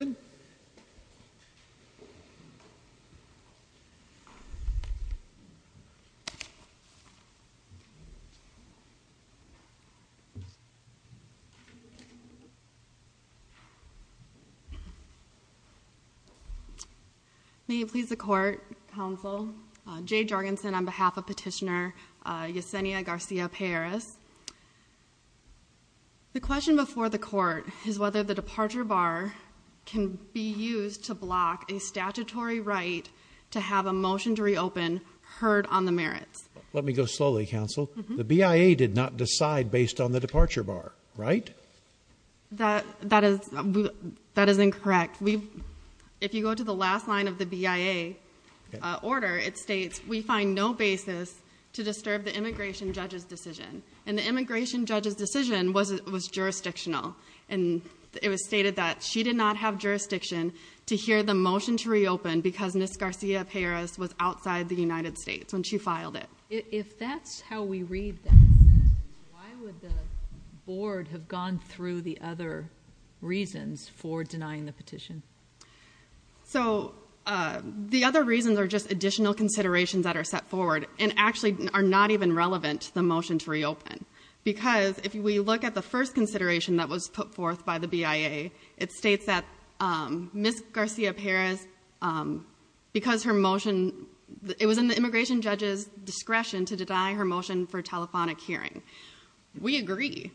May it please the Court, Counsel, J. Jorgensen on behalf of Petitioner Yesenia García-Payeras. The question before the Court is whether the departure bar can be used to block a statutory right to have a motion to reopen heard on the merits. Let me go slowly, Counsel. The BIA did not decide based on the departure bar, right? That is incorrect. If you go to the last line of the BIA order, it states, we find no basis to disturb the immigration judge's decision, and the immigration judge's decision was jurisdictional, and it was stated that she did not have jurisdiction to hear the motion to reopen because Ms. García-Payeras was outside the United States when she filed it. If that's how we read that, why would the Board have gone through the other reasons for denying the petition? So the other reasons are just additional considerations that are set forward and actually are not even relevant to the motion to reopen because if we look at the first consideration that was put forth by the BIA, it states that Ms. García-Payeras, because her motion, it was in the immigration judge's discretion to deny her motion for telephonic hearing. We agree.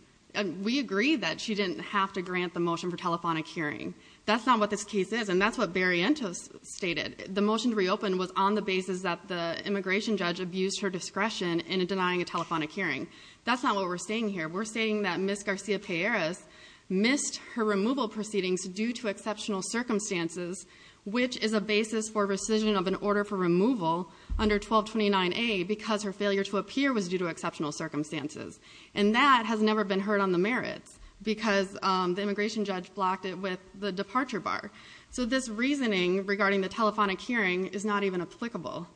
We agree that she didn't have to grant the motion for telephonic hearing. That's not what this case is, and that's what Berrientos stated. The motion to reopen was on the basis that the immigration judge abused her discretion in denying a telephonic hearing. That's not what we're stating here. We're stating that Ms. García-Payeras missed her removal proceedings due to exceptional circumstances, which is a basis for rescission of an order for removal under 1229A because her failure to appear was due to exceptional circumstances, and that has never been heard on the merits because the immigration judge blocked it with the departure bar. So this reasoning regarding the telephonic hearing is not even applicable.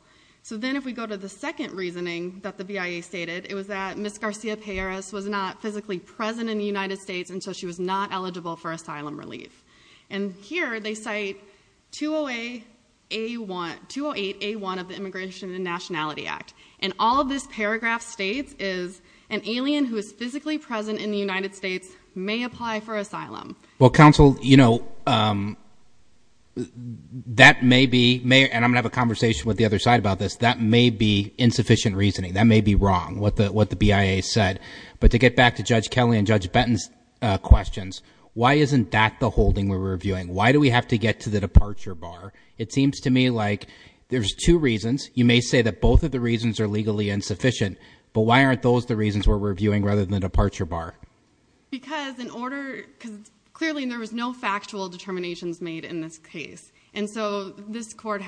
So then if we go to the second reasoning that the BIA stated, it was that Ms. García-Payeras was not physically present in the United States, and so she was not eligible for asylum relief. And here they cite 208A1 of the Immigration and Nationality Act, and all of this paragraph states is an alien who is physically present in the United States may apply for asylum. Well, counsel, you know, that may be, and I'm going to have a conversation with the other side about this, that may be insufficient reasoning. That may be wrong, what the BIA said. But to get back to Judge Kelly and Judge Benton's questions, why isn't that the holding we're reviewing? Why do we have to get to the departure bar? It seems to me like there's two reasons. You may say that both of the reasons are legally insufficient, but why aren't those the reasons we're reviewing rather than the departure bar? Because clearly there was no factual determinations made in this case. And so this court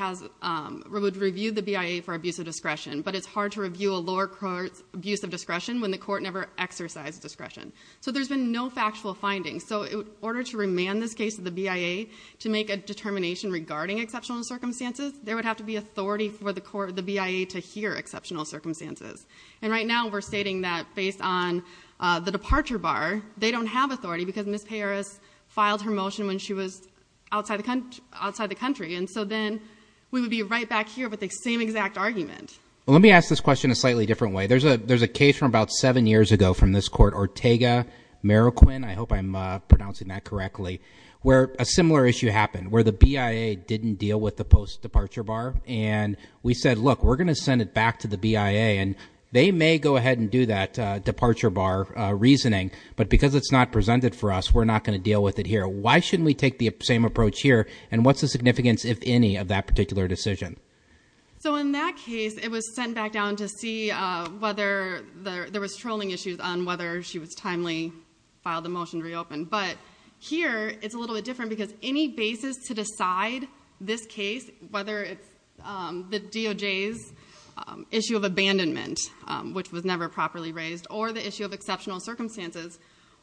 would review the BIA for abuse of discretion, but it's hard to review a lower court's abuse of discretion when the court never exercised discretion. So there's been no factual findings. So in order to remand this case to the BIA to make a determination regarding exceptional circumstances, there would have to be authority for the BIA to hear exceptional circumstances. And right now we're stating that based on the departure bar, they don't have authority because Ms. Perez filed her motion when she was outside the country. And so then we would be right back here with the same exact argument. Let me ask this question a slightly different way. There's a case from about seven years ago from this court, Ortega-Marroquin, I hope I'm pronouncing that correctly, where a similar issue happened where the BIA didn't deal with the post-departure bar. And we said, look, we're going to send it back to the BIA. And they may go ahead and do that departure bar reasoning, but because it's not presented for us, we're not going to deal with it here. Why shouldn't we take the same approach here? And what's the significance, if any, of that particular decision? So in that case, it was sent back down to see whether there was trolling issues on whether she was timely, filed the motion to reopen. But here, it's a little bit different because any basis to decide this case, whether it's the DOJ's issue of abandonment, which was never properly raised, or the issue of exceptional circumstances,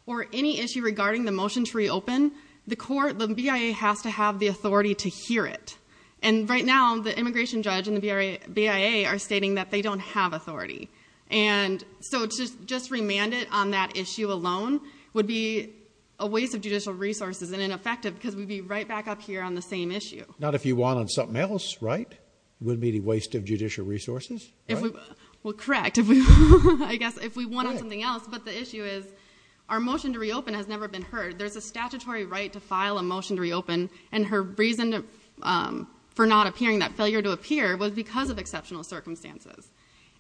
or any issue regarding the motion to reopen, the BIA has to have the authority to hear it. And right now, the immigration judge and the BIA are stating that they don't have authority. And so to just remand it on that issue alone would be a waste of judicial resources and ineffective because we'd be right back up here on the same issue. Not if you want on something else, right? It wouldn't be a waste of judicial resources, right? Well, correct. I guess if we want on something else, but the issue is our motion to reopen has never been heard. There's a statutory right to file a motion to reopen, and her reason for not appearing, that failure to appear, was because of exceptional circumstances.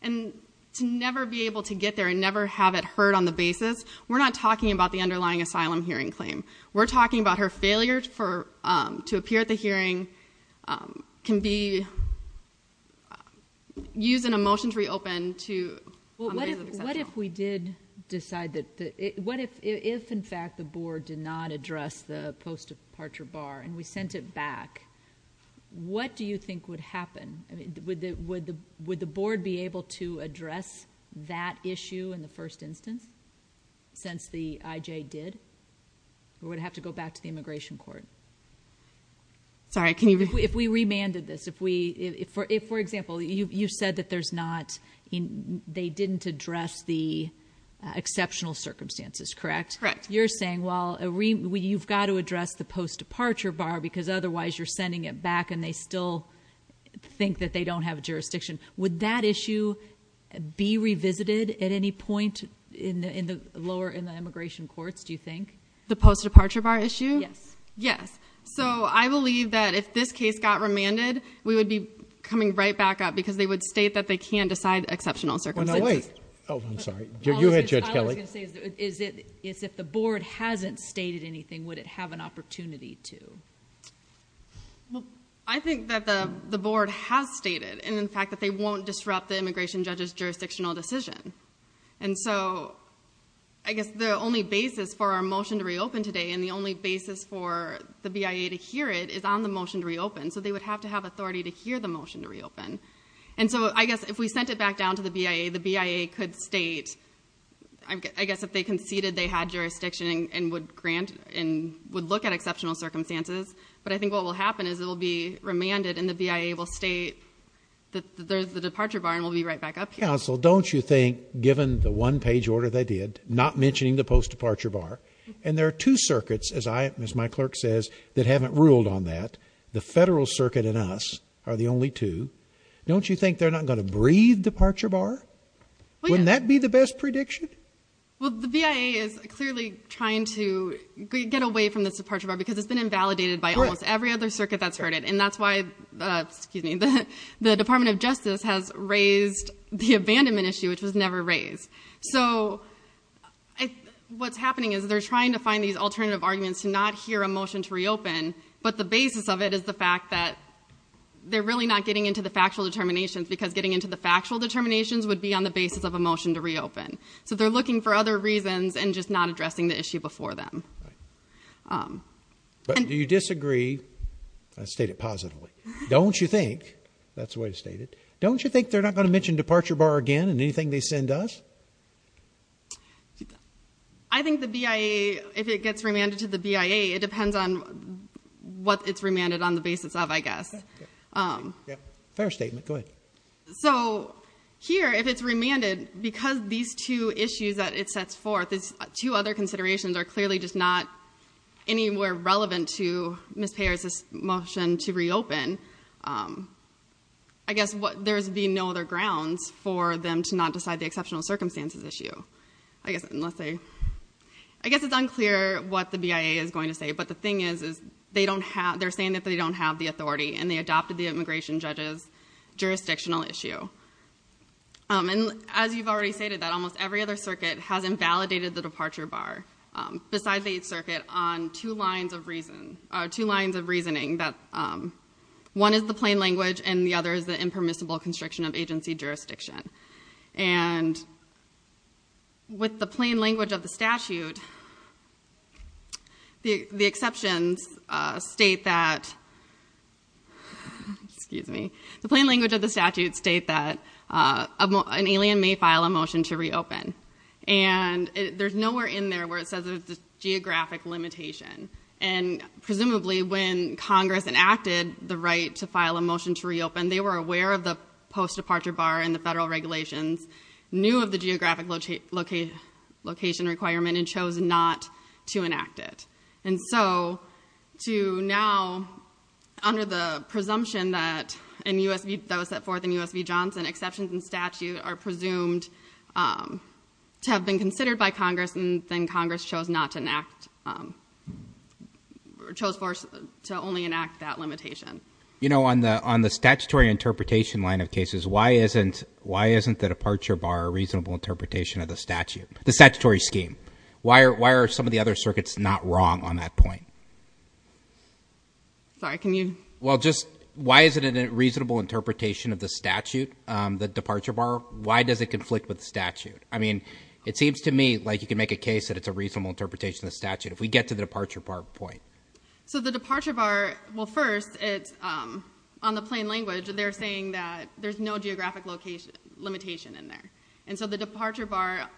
And to never be able to get there and never have it heard on the basis, we're not talking about the underlying asylum hearing claim. We're talking about her failure to appear at the hearing can be used in a motion to reopen on the basis of exceptional. What if we did decide that if, in fact, the board did not address the post-departure bar and we sent it back, what do you think would happen? Would the board be able to address that issue in the first instance since the IJ did? Or would it have to go back to the immigration court? Sorry, can you repeat? If we remanded this, for example, you said that they didn't address the exceptional circumstances, correct? Correct. You're saying, well, you've got to address the post-departure bar because otherwise you're sending it back and they still think that they don't have a jurisdiction. Would that issue be revisited at any point in the immigration courts, do you think? The post-departure bar issue? Yes. Yes. So I believe that if this case got remanded, we would be coming right back up because they would state that they can't decide exceptional circumstances. Now, wait. Oh, I'm sorry. You hit Judge Kelly. What I was going to say is if the board hasn't stated anything, would it have an opportunity to? Well, I think that the board has stated, in fact, that they won't disrupt the immigration judge's jurisdictional decision. And so I guess the only basis for our motion to reopen today and the only basis for the BIA to hear it is on the motion to reopen, so they would have to have authority to hear the motion to reopen. And so I guess if we sent it back down to the BIA, the BIA could state, I guess, if they conceded they had jurisdiction and would look at exceptional circumstances. But I think what will happen is it will be remanded and the BIA will state that there's the departure bar and we'll be right back up here. Counsel, don't you think, given the one-page order they did, not mentioning the post-departure bar, and there are two circuits, as my clerk says, that haven't ruled on that, the federal circuit and us are the only two, don't you think they're not going to breathe departure bar? Wouldn't that be the best prediction? Well, the BIA is clearly trying to get away from this departure bar because it's been invalidated by almost every other circuit that's heard it. And that's why the Department of Justice has raised the abandonment issue, which was never raised. So what's happening is they're trying to find these alternative arguments to not hear a motion to reopen, but the basis of it is the fact that they're really not getting into the factual determinations because getting into the factual determinations would be on the basis of a motion to reopen. So they're looking for other reasons and just not addressing the issue before them. But do you disagree? State it positively. Don't you think, that's the way to state it, don't you think they're not going to mention departure bar again in anything they send us? I think the BIA, if it gets remanded to the BIA, it depends on what it's remanded on the basis of, I guess. Fair statement. Go ahead. So here, if it's remanded because these two issues that it sets forth, these two other considerations are clearly just not anywhere relevant to Ms. Payer's motion to reopen. I guess there would be no other grounds for them to not decide the exceptional circumstances issue. I guess it's unclear what the BIA is going to say, but the thing is they're saying that they don't have the authority and they adopted the immigration judge's jurisdictional issue. And as you've already stated, that almost every other circuit has invalidated the departure bar, besides each circuit, on two lines of reasoning. One is the plain language and the other is the impermissible constriction of agency jurisdiction. And with the plain language of the statute, the exceptions state that, excuse me, the plain language of the statute states that an alien may file a motion to reopen. And there's nowhere in there where it says there's a geographic limitation. And presumably when Congress enacted the right to file a motion to reopen, they were aware of the post-departure bar and the federal regulations, knew of the geographic location requirement, and chose not to enact it. And so to now, under the presumption that was set forth in U.S. v. Johnson, exceptions in statute are presumed to have been considered by Congress, and then Congress chose not to enact, chose to only enact that limitation. You know, on the statutory interpretation line of cases, why isn't the departure bar a reasonable interpretation of the statute, the statutory scheme? Why are some of the other circuits not wrong on that point? Sorry, can you? Well, just why isn't it a reasonable interpretation of the statute, the departure bar? Why does it conflict with the statute? I mean, it seems to me like you can make a case that it's a reasonable interpretation of the statute, if we get to the departure bar point. So the departure bar, well, first, on the plain language, they're saying that there's no geographic limitation in there. And so the departure bar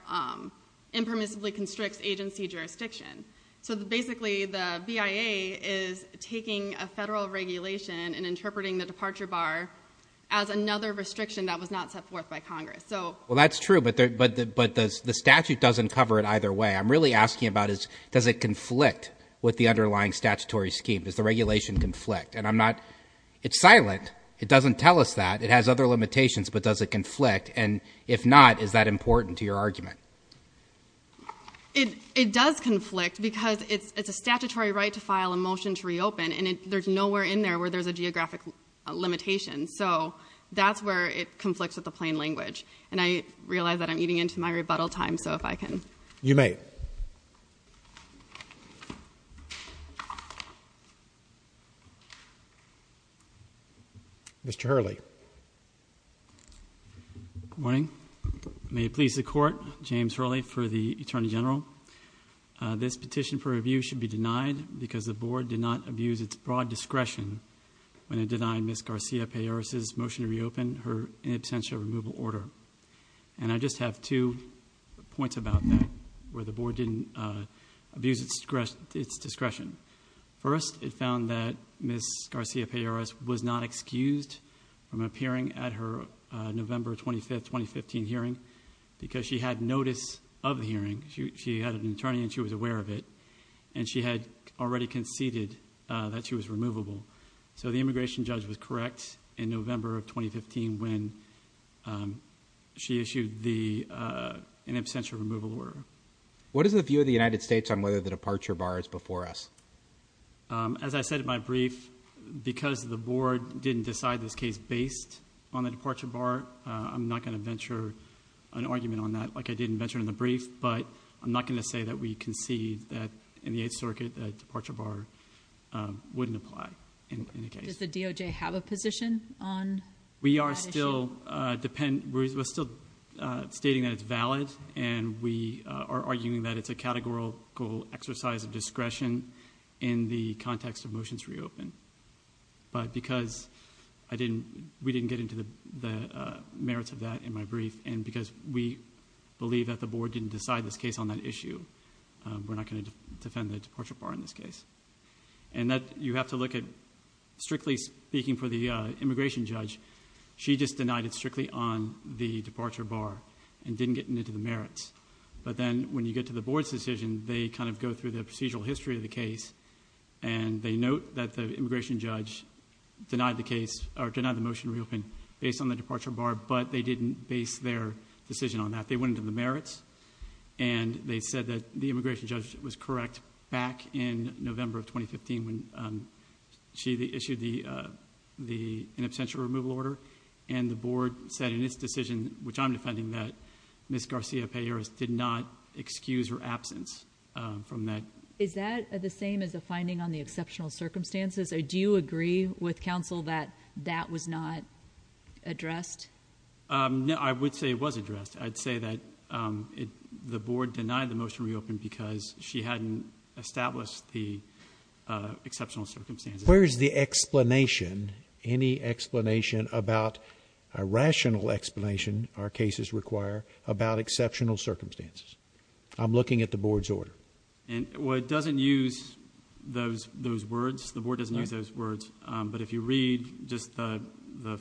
impermissibly constricts agency jurisdiction. So basically the BIA is taking a federal regulation and interpreting the departure bar as another restriction that was not set forth by Congress. Well, that's true, but the statute doesn't cover it either way. I'm really asking about does it conflict with the underlying statutory scheme? Does the regulation conflict? And I'm not – it's silent. It doesn't tell us that. It has other limitations, but does it conflict? And if not, is that important to your argument? It does conflict because it's a statutory right to file a motion to reopen, and there's nowhere in there where there's a geographic limitation. So that's where it conflicts with the plain language. And I realize that I'm eating into my rebuttal time, so if I can. You may. Mr. Hurley. Good morning. May it please the Court, James Hurley for the Attorney General. This petition for review should be denied because the Board did not abuse its broad discretion when it denied Ms. Garcia-Perez's motion to reopen her in absentia removal order. And I just have two points about that, where the Board didn't abuse its discretion. First, it found that Ms. Garcia-Perez was not excused from appearing at her November 25, 2015 hearing because she had notice of the hearing. She had an attorney and she was aware of it, and she had already conceded that she was removable. So the immigration judge was correct in November of 2015 when she issued an absentia removal order. What is the view of the United States on whether the departure bar is before us? As I said in my brief, because the Board didn't decide this case based on the departure bar, I'm not going to venture an argument on that like I didn't venture in the brief, but I'm not going to say that we concede that in the Eighth Circuit the departure bar wouldn't apply in any case. Does the DOJ have a position on that issue? We are still stating that it's valid, and we are arguing that it's a categorical exercise of discretion in the context of motions to reopen. But because we didn't get into the merits of that in my brief, and because we believe that the Board didn't decide this case on that issue, we're not going to defend the departure bar in this case. You have to look at, strictly speaking for the immigration judge, she just denied it strictly on the departure bar and didn't get into the merits. But then when you get to the Board's decision, they kind of go through the procedural history of the case, and they note that the immigration judge denied the motion to reopen based on the departure bar, but they didn't base their decision on that. They went into the merits, and they said that the immigration judge was correct back in November of 2015 when she issued the in absentia removal order, and the Board said in its decision, which I'm defending, that Ms. Garcia-Perez did not excuse her absence from that. Is that the same as a finding on the exceptional circumstances? Do you agree with counsel that that was not addressed? No, I would say it was addressed. I'd say that the Board denied the motion to reopen because she hadn't established the exceptional circumstances. Where is the explanation, any explanation about a rational explanation our cases require about exceptional circumstances? I'm looking at the Board's order. Well, it doesn't use those words. The Board doesn't use those words. If you read just the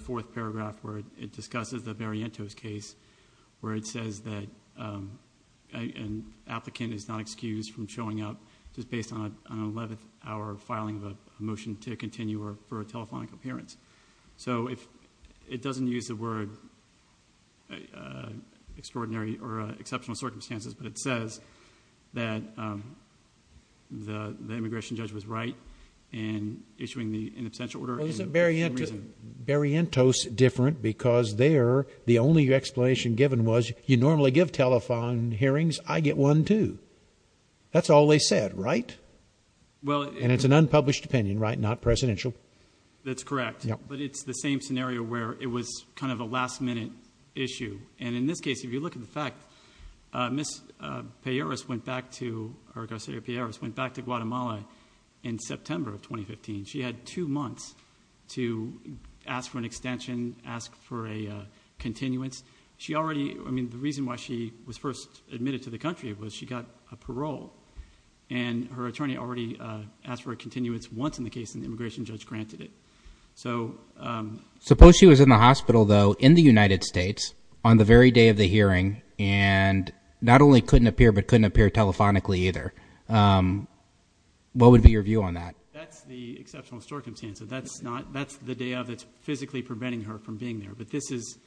fourth paragraph where it discusses the Barrientos case where it says that an applicant is not excused from showing up just based on an 11th hour filing of a motion to continue or for a telephonic appearance. It doesn't use the word extraordinary or exceptional circumstances, but it says that the immigration judge was right in issuing the in absentia order. Well, isn't Barrientos different because there, the only explanation given was, you normally give telephone hearings, I get one too. That's all they said, right? And it's an unpublished opinion, right, not presidential. That's correct, but it's the same scenario where it was kind of a last minute issue. And in this case, if you look at the fact, Ms. Pierras went back to Guatemala in September of 2015. She had two months to ask for an extension, ask for a continuance. She already, I mean, the reason why she was first admitted to the country was she got a parole, and her attorney already asked for a continuance once in the case, and the immigration judge granted it. So suppose she was in the hospital, though, in the United States on the very day of the hearing and not only couldn't appear but couldn't appear telephonically either. What would be your view on that? That's the exceptional circumstance. That's the day of that's physically preventing her from being there. But this is,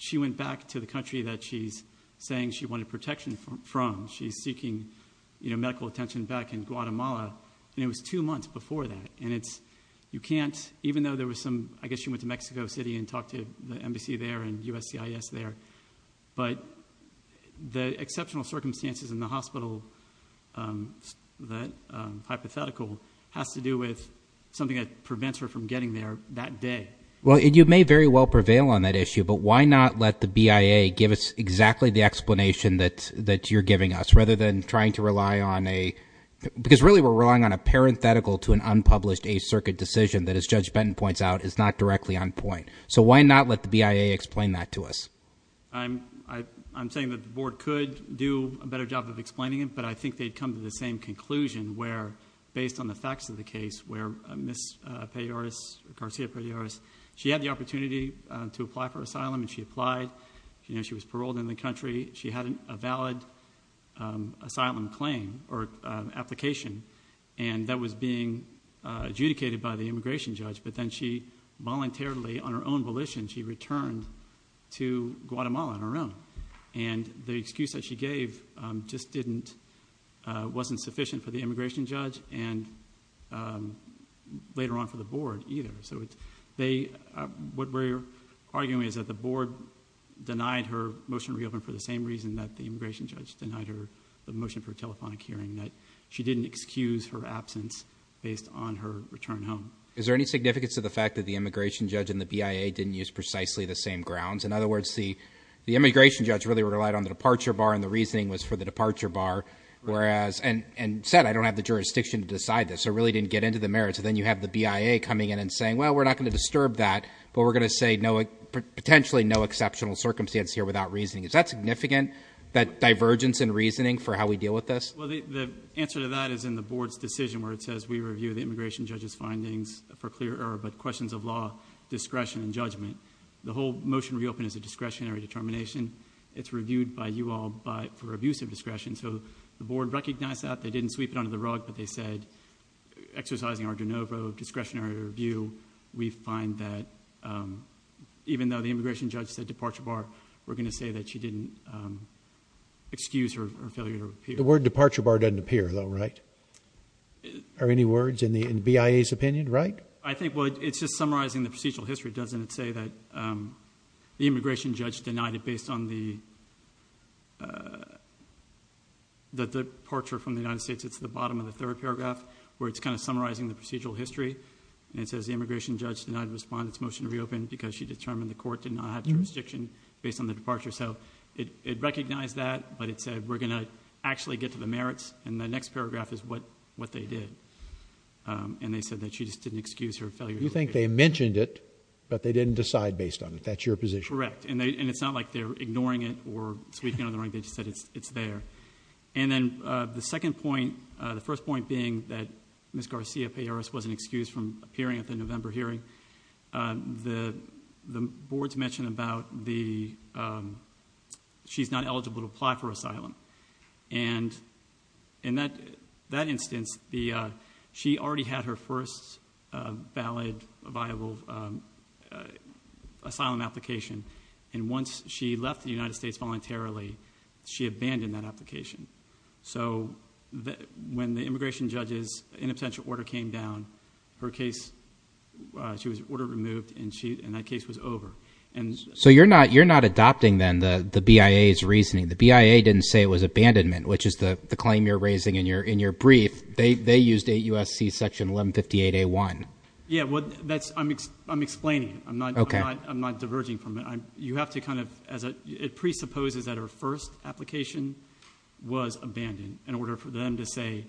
she went back to the country that she's saying she wanted protection from. She's seeking medical attention back in Guatemala, and it was two months before that. And you can't, even though there was some, I guess she went to Mexico City and talked to the embassy there and USCIS there, but the exceptional circumstances in the hospital, that hypothetical, has to do with something that prevents her from getting there that day. Well, you may very well prevail on that issue, but why not let the BIA give us exactly the explanation that you're giving us rather than trying to rely on a, because really we're relying on a parenthetical to an unpublished Eighth Circuit decision that, as Judge Benton points out, is not directly on point. So why not let the BIA explain that to us? I'm saying that the Board could do a better job of explaining it, but I think they'd come to the same conclusion where, based on the facts of the case, where Ms. Pelliaras, Garcia Pelliaras, she had the opportunity to apply for asylum, and she applied. She was paroled in the country. She had a valid asylum claim or application, and that was being adjudicated by the immigration judge, but then she voluntarily, on her own volition, she returned to Guatemala on her own. And the excuse that she gave just wasn't sufficient for the immigration judge and later on for the Board either. So what we're arguing is that the Board denied her motion to reopen for the same reason that the immigration judge denied her the motion for a telephonic hearing, that she didn't excuse her absence based on her return home. Is there any significance to the fact that the immigration judge and the BIA didn't use precisely the same grounds? In other words, the immigration judge really relied on the departure bar, and the reasoning was for the departure bar, and said, I don't have the jurisdiction to decide this, so it really didn't get into the merits. And then you have the BIA coming in and saying, well, we're not going to disturb that, but we're going to say potentially no exceptional circumstance here without reasoning. Is that significant, that divergence in reasoning for how we deal with this? Well, the answer to that is in the Board's decision where it says we review the immigration judge's findings for clear error, but questions of law, discretion, and judgment. The whole motion to reopen is a discretionary determination. It's reviewed by you all for abuse of discretion, so the Board recognized that. They didn't sweep it under the rug, but they said exercising our de novo discretionary review, we find that even though the immigration judge said departure bar, we're going to say that she didn't excuse her failure to appear. The word departure bar doesn't appear, though, right? Are any words in BIA's opinion right? I think it's just summarizing the procedural history, doesn't it, the immigration judge denied it based on the departure from the United States. It's the bottom of the third paragraph where it's kind of summarizing the procedural history, and it says the immigration judge denied the respondent's motion to reopen because she determined the court did not have jurisdiction based on the departure. It recognized that, but it said we're going to actually get to the merits, and the next paragraph is what they did. They said that she just didn't excuse her failure to appear. You think they mentioned it, but they didn't decide based on it. That's your position. Correct, and it's not like they're ignoring it or sweeping it under the rug. They just said it's there. And then the second point, the first point being that Ms. Garcia-Perez wasn't excused from appearing at the November hearing, and in that instance, she already had her first valid viable asylum application, and once she left the United States voluntarily, she abandoned that application. So when the immigration judge's inabstential order came down, her case, she was order removed, and that case was over. So you're not adopting then the BIA's reasoning. The BIA didn't say it was abandonment, which is the claim you're raising in your brief. They used 8 U.S.C. Section 1158A1. Yeah, well, I'm explaining it. I'm not diverging from it. You have to kind of, it presupposes that her first application was abandoned in order for them to say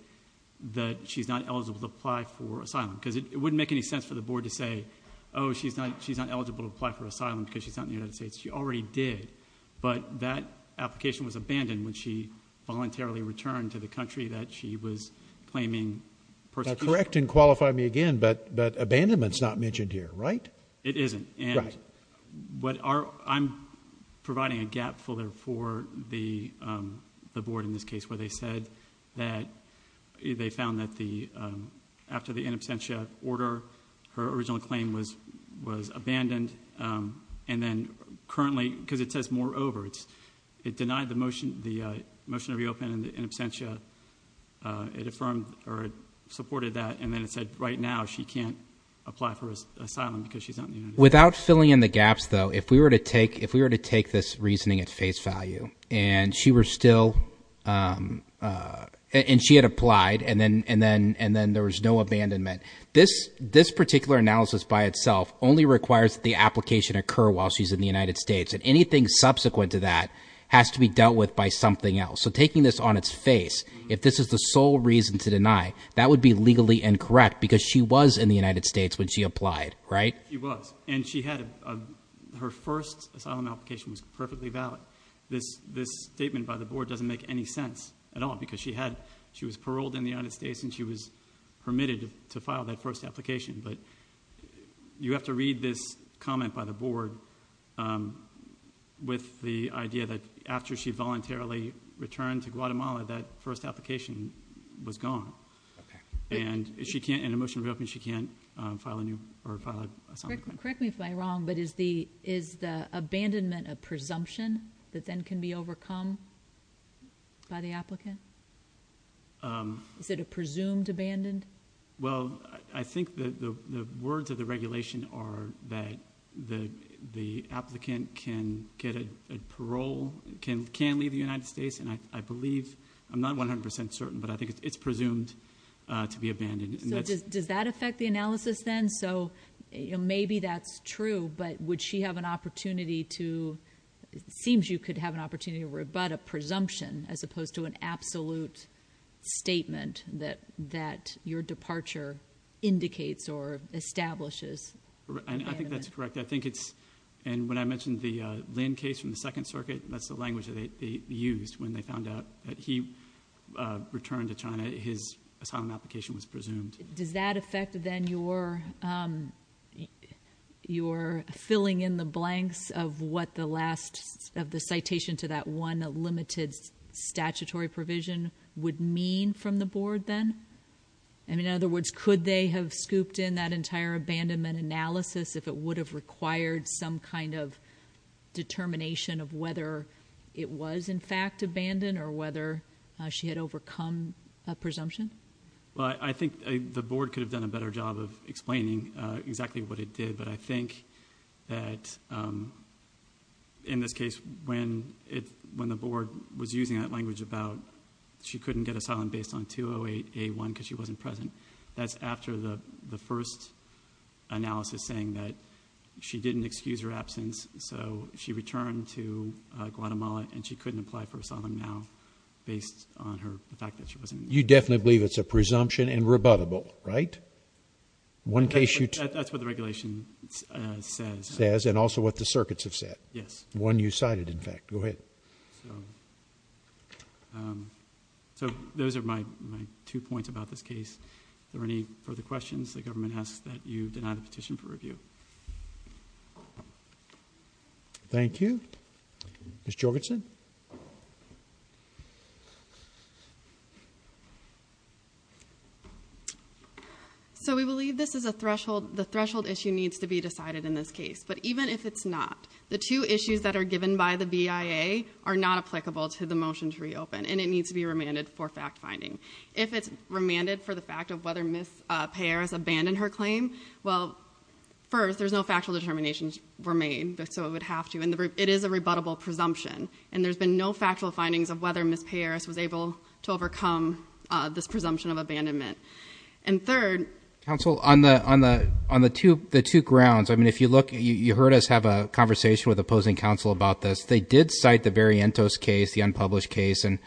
that she's not eligible to apply for asylum because it wouldn't make any sense for the board to say, oh, she's not eligible to apply for asylum because she's not in the United States. She already did, but that application was abandoned when she voluntarily returned to the country that she was claiming persecution. Now correct and qualify me again, but abandonment's not mentioned here, right? It isn't, and I'm providing a gap for the board in this case where they said that they found that after the inabstentia order, her original claim was abandoned, and then currently, because it says moreover, it denied the motion to reopen in absentia. It affirmed or supported that, and then it said right now she can't apply for asylum because she's not in the United States. Without filling in the gaps, though, if we were to take this reasoning at face value and she had applied and then there was no abandonment, this particular analysis by itself only requires that the application occur while she's in the United States, and anything subsequent to that has to be dealt with by something else. So taking this on its face, if this is the sole reason to deny, that would be legally incorrect because she was in the United States when she applied, right? She was, and her first asylum application was perfectly valid. This statement by the board doesn't make any sense at all because she was paroled in the United States and she was permitted to file that first application. But you have to read this comment by the board with the idea that after she voluntarily returned to Guatemala, that first application was gone. And in a motion to reopen, she can't file a new or file an asylum claim. Correct me if I'm wrong, but is the abandonment a presumption that then can be overcome by the applicant? Is it a presumed abandon? Well, I think that the words of the regulation are that the applicant can get a parole, can leave the United States, and I believe, I'm not 100% certain, but I think it's presumed to be abandoned. So does that affect the analysis then? So maybe that's true, but would she have an opportunity to, it seems you could have an opportunity to rebut a presumption as opposed to an absolute statement that your departure indicates or establishes abandonment. I think that's correct. I think it's, and when I mentioned the Lin case from the Second Circuit, that's the language that they used when they found out that he returned to China, his asylum application was presumed. Does that affect then your filling in the blanks of what the last, of the citation to that one limited statutory provision would mean from the board then? In other words, could they have scooped in that entire abandonment analysis if it would have required some kind of determination of whether it was in fact abandoned or whether she had overcome a presumption? Well, I think the board could have done a better job of explaining exactly what it did, but I think that in this case when the board was using that language about she couldn't get asylum based on 208A1 because she wasn't present, that's after the first analysis saying that she didn't excuse her absence, so she returned to Guatemala and she couldn't apply for asylum now based on the fact that she wasn't there. You definitely believe it's a presumption and rebuttable, right? That's what the regulation says. Says, and also what the circuits have said. Yes. One you cited, in fact. Go ahead. So those are my two points about this case. Are there any further questions? The government asks that you deny the petition for review. Thank you. Ms. Jorgensen. So we believe this is a threshold. The threshold issue needs to be decided in this case, but even if it's not, the two issues that are given by the BIA are not applicable to the motion to reopen, and it needs to be remanded for fact finding. If it's remanded for the fact of whether Ms. Payare has abandoned her claim, well, first, there's no factual determinations were made, so it would have to, I mean, it is a rebuttable presumption, and there's been no factual findings of whether Ms. Payare was able to overcome this presumption of abandonment. And third. Counsel, on the two grounds, I mean, if you look, you heard us have a conversation with opposing counsel about this. They did cite the Berrientos case, the unpublished case, and,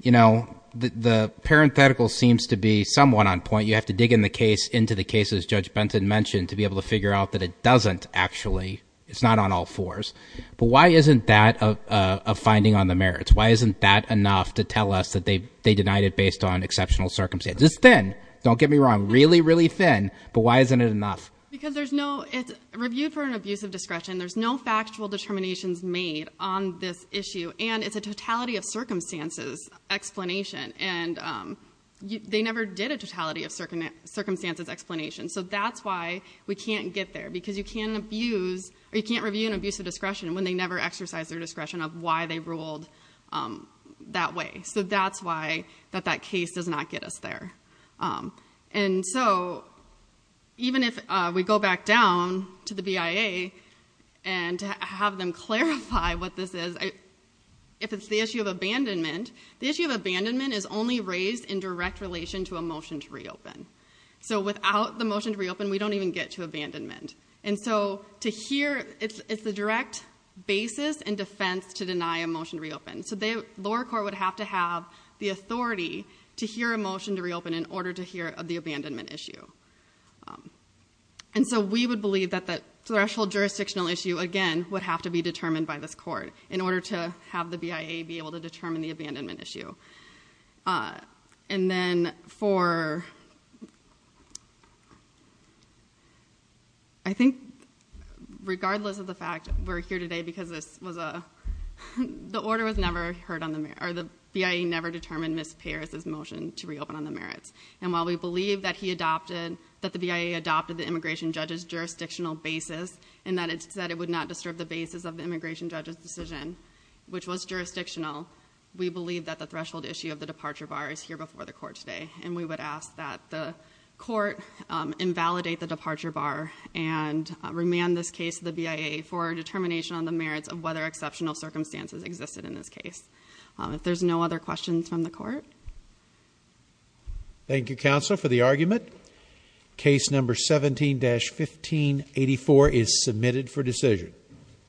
you know, the parenthetical seems to be somewhat on point. You have to dig into the case as Judge Benton mentioned to be able to figure out that it doesn't actually. It's not on all fours. But why isn't that a finding on the merits? Why isn't that enough to tell us that they denied it based on exceptional circumstances? It's thin. Don't get me wrong. Really, really thin. But why isn't it enough? Because there's no, it's reviewed for an abuse of discretion. There's no factual determinations made on this issue, and it's a totality of circumstances explanation, and they never did a totality of circumstances explanation. So that's why we can't get there, because you can't abuse, or you can't review an abuse of discretion when they never exercise their discretion of why they ruled that way. So that's why that that case does not get us there. And so even if we go back down to the BIA and have them clarify what this is, if it's the issue of abandonment, the issue of abandonment is only raised in direct relation to a motion to reopen. So without the motion to reopen, we don't even get to abandonment. And so to hear, it's the direct basis and defense to deny a motion to reopen. So the lower court would have to have the authority to hear a motion to reopen in order to hear of the abandonment issue. And so we would believe that that threshold jurisdictional issue, again, would have to be determined by this court in order to have the BIA be able to determine the abandonment issue. And then for, I think, regardless of the fact we're here today because this was a, the order was never heard on the merit, or the BIA never determined Ms. Paris' motion to reopen on the merits. And while we believe that he adopted, that the BIA adopted the immigration judge's jurisdictional basis, and that it said it would not disturb the basis of the immigration judge's jurisdictional, we believe that the threshold issue of the departure bar is here before the court today. And we would ask that the court invalidate the departure bar and remand this case to the BIA for determination on the merits of whether exceptional circumstances existed in this case. If there's no other questions from the court. Thank you, Counselor, for the argument. Case number 17-1584 is submitted for decision.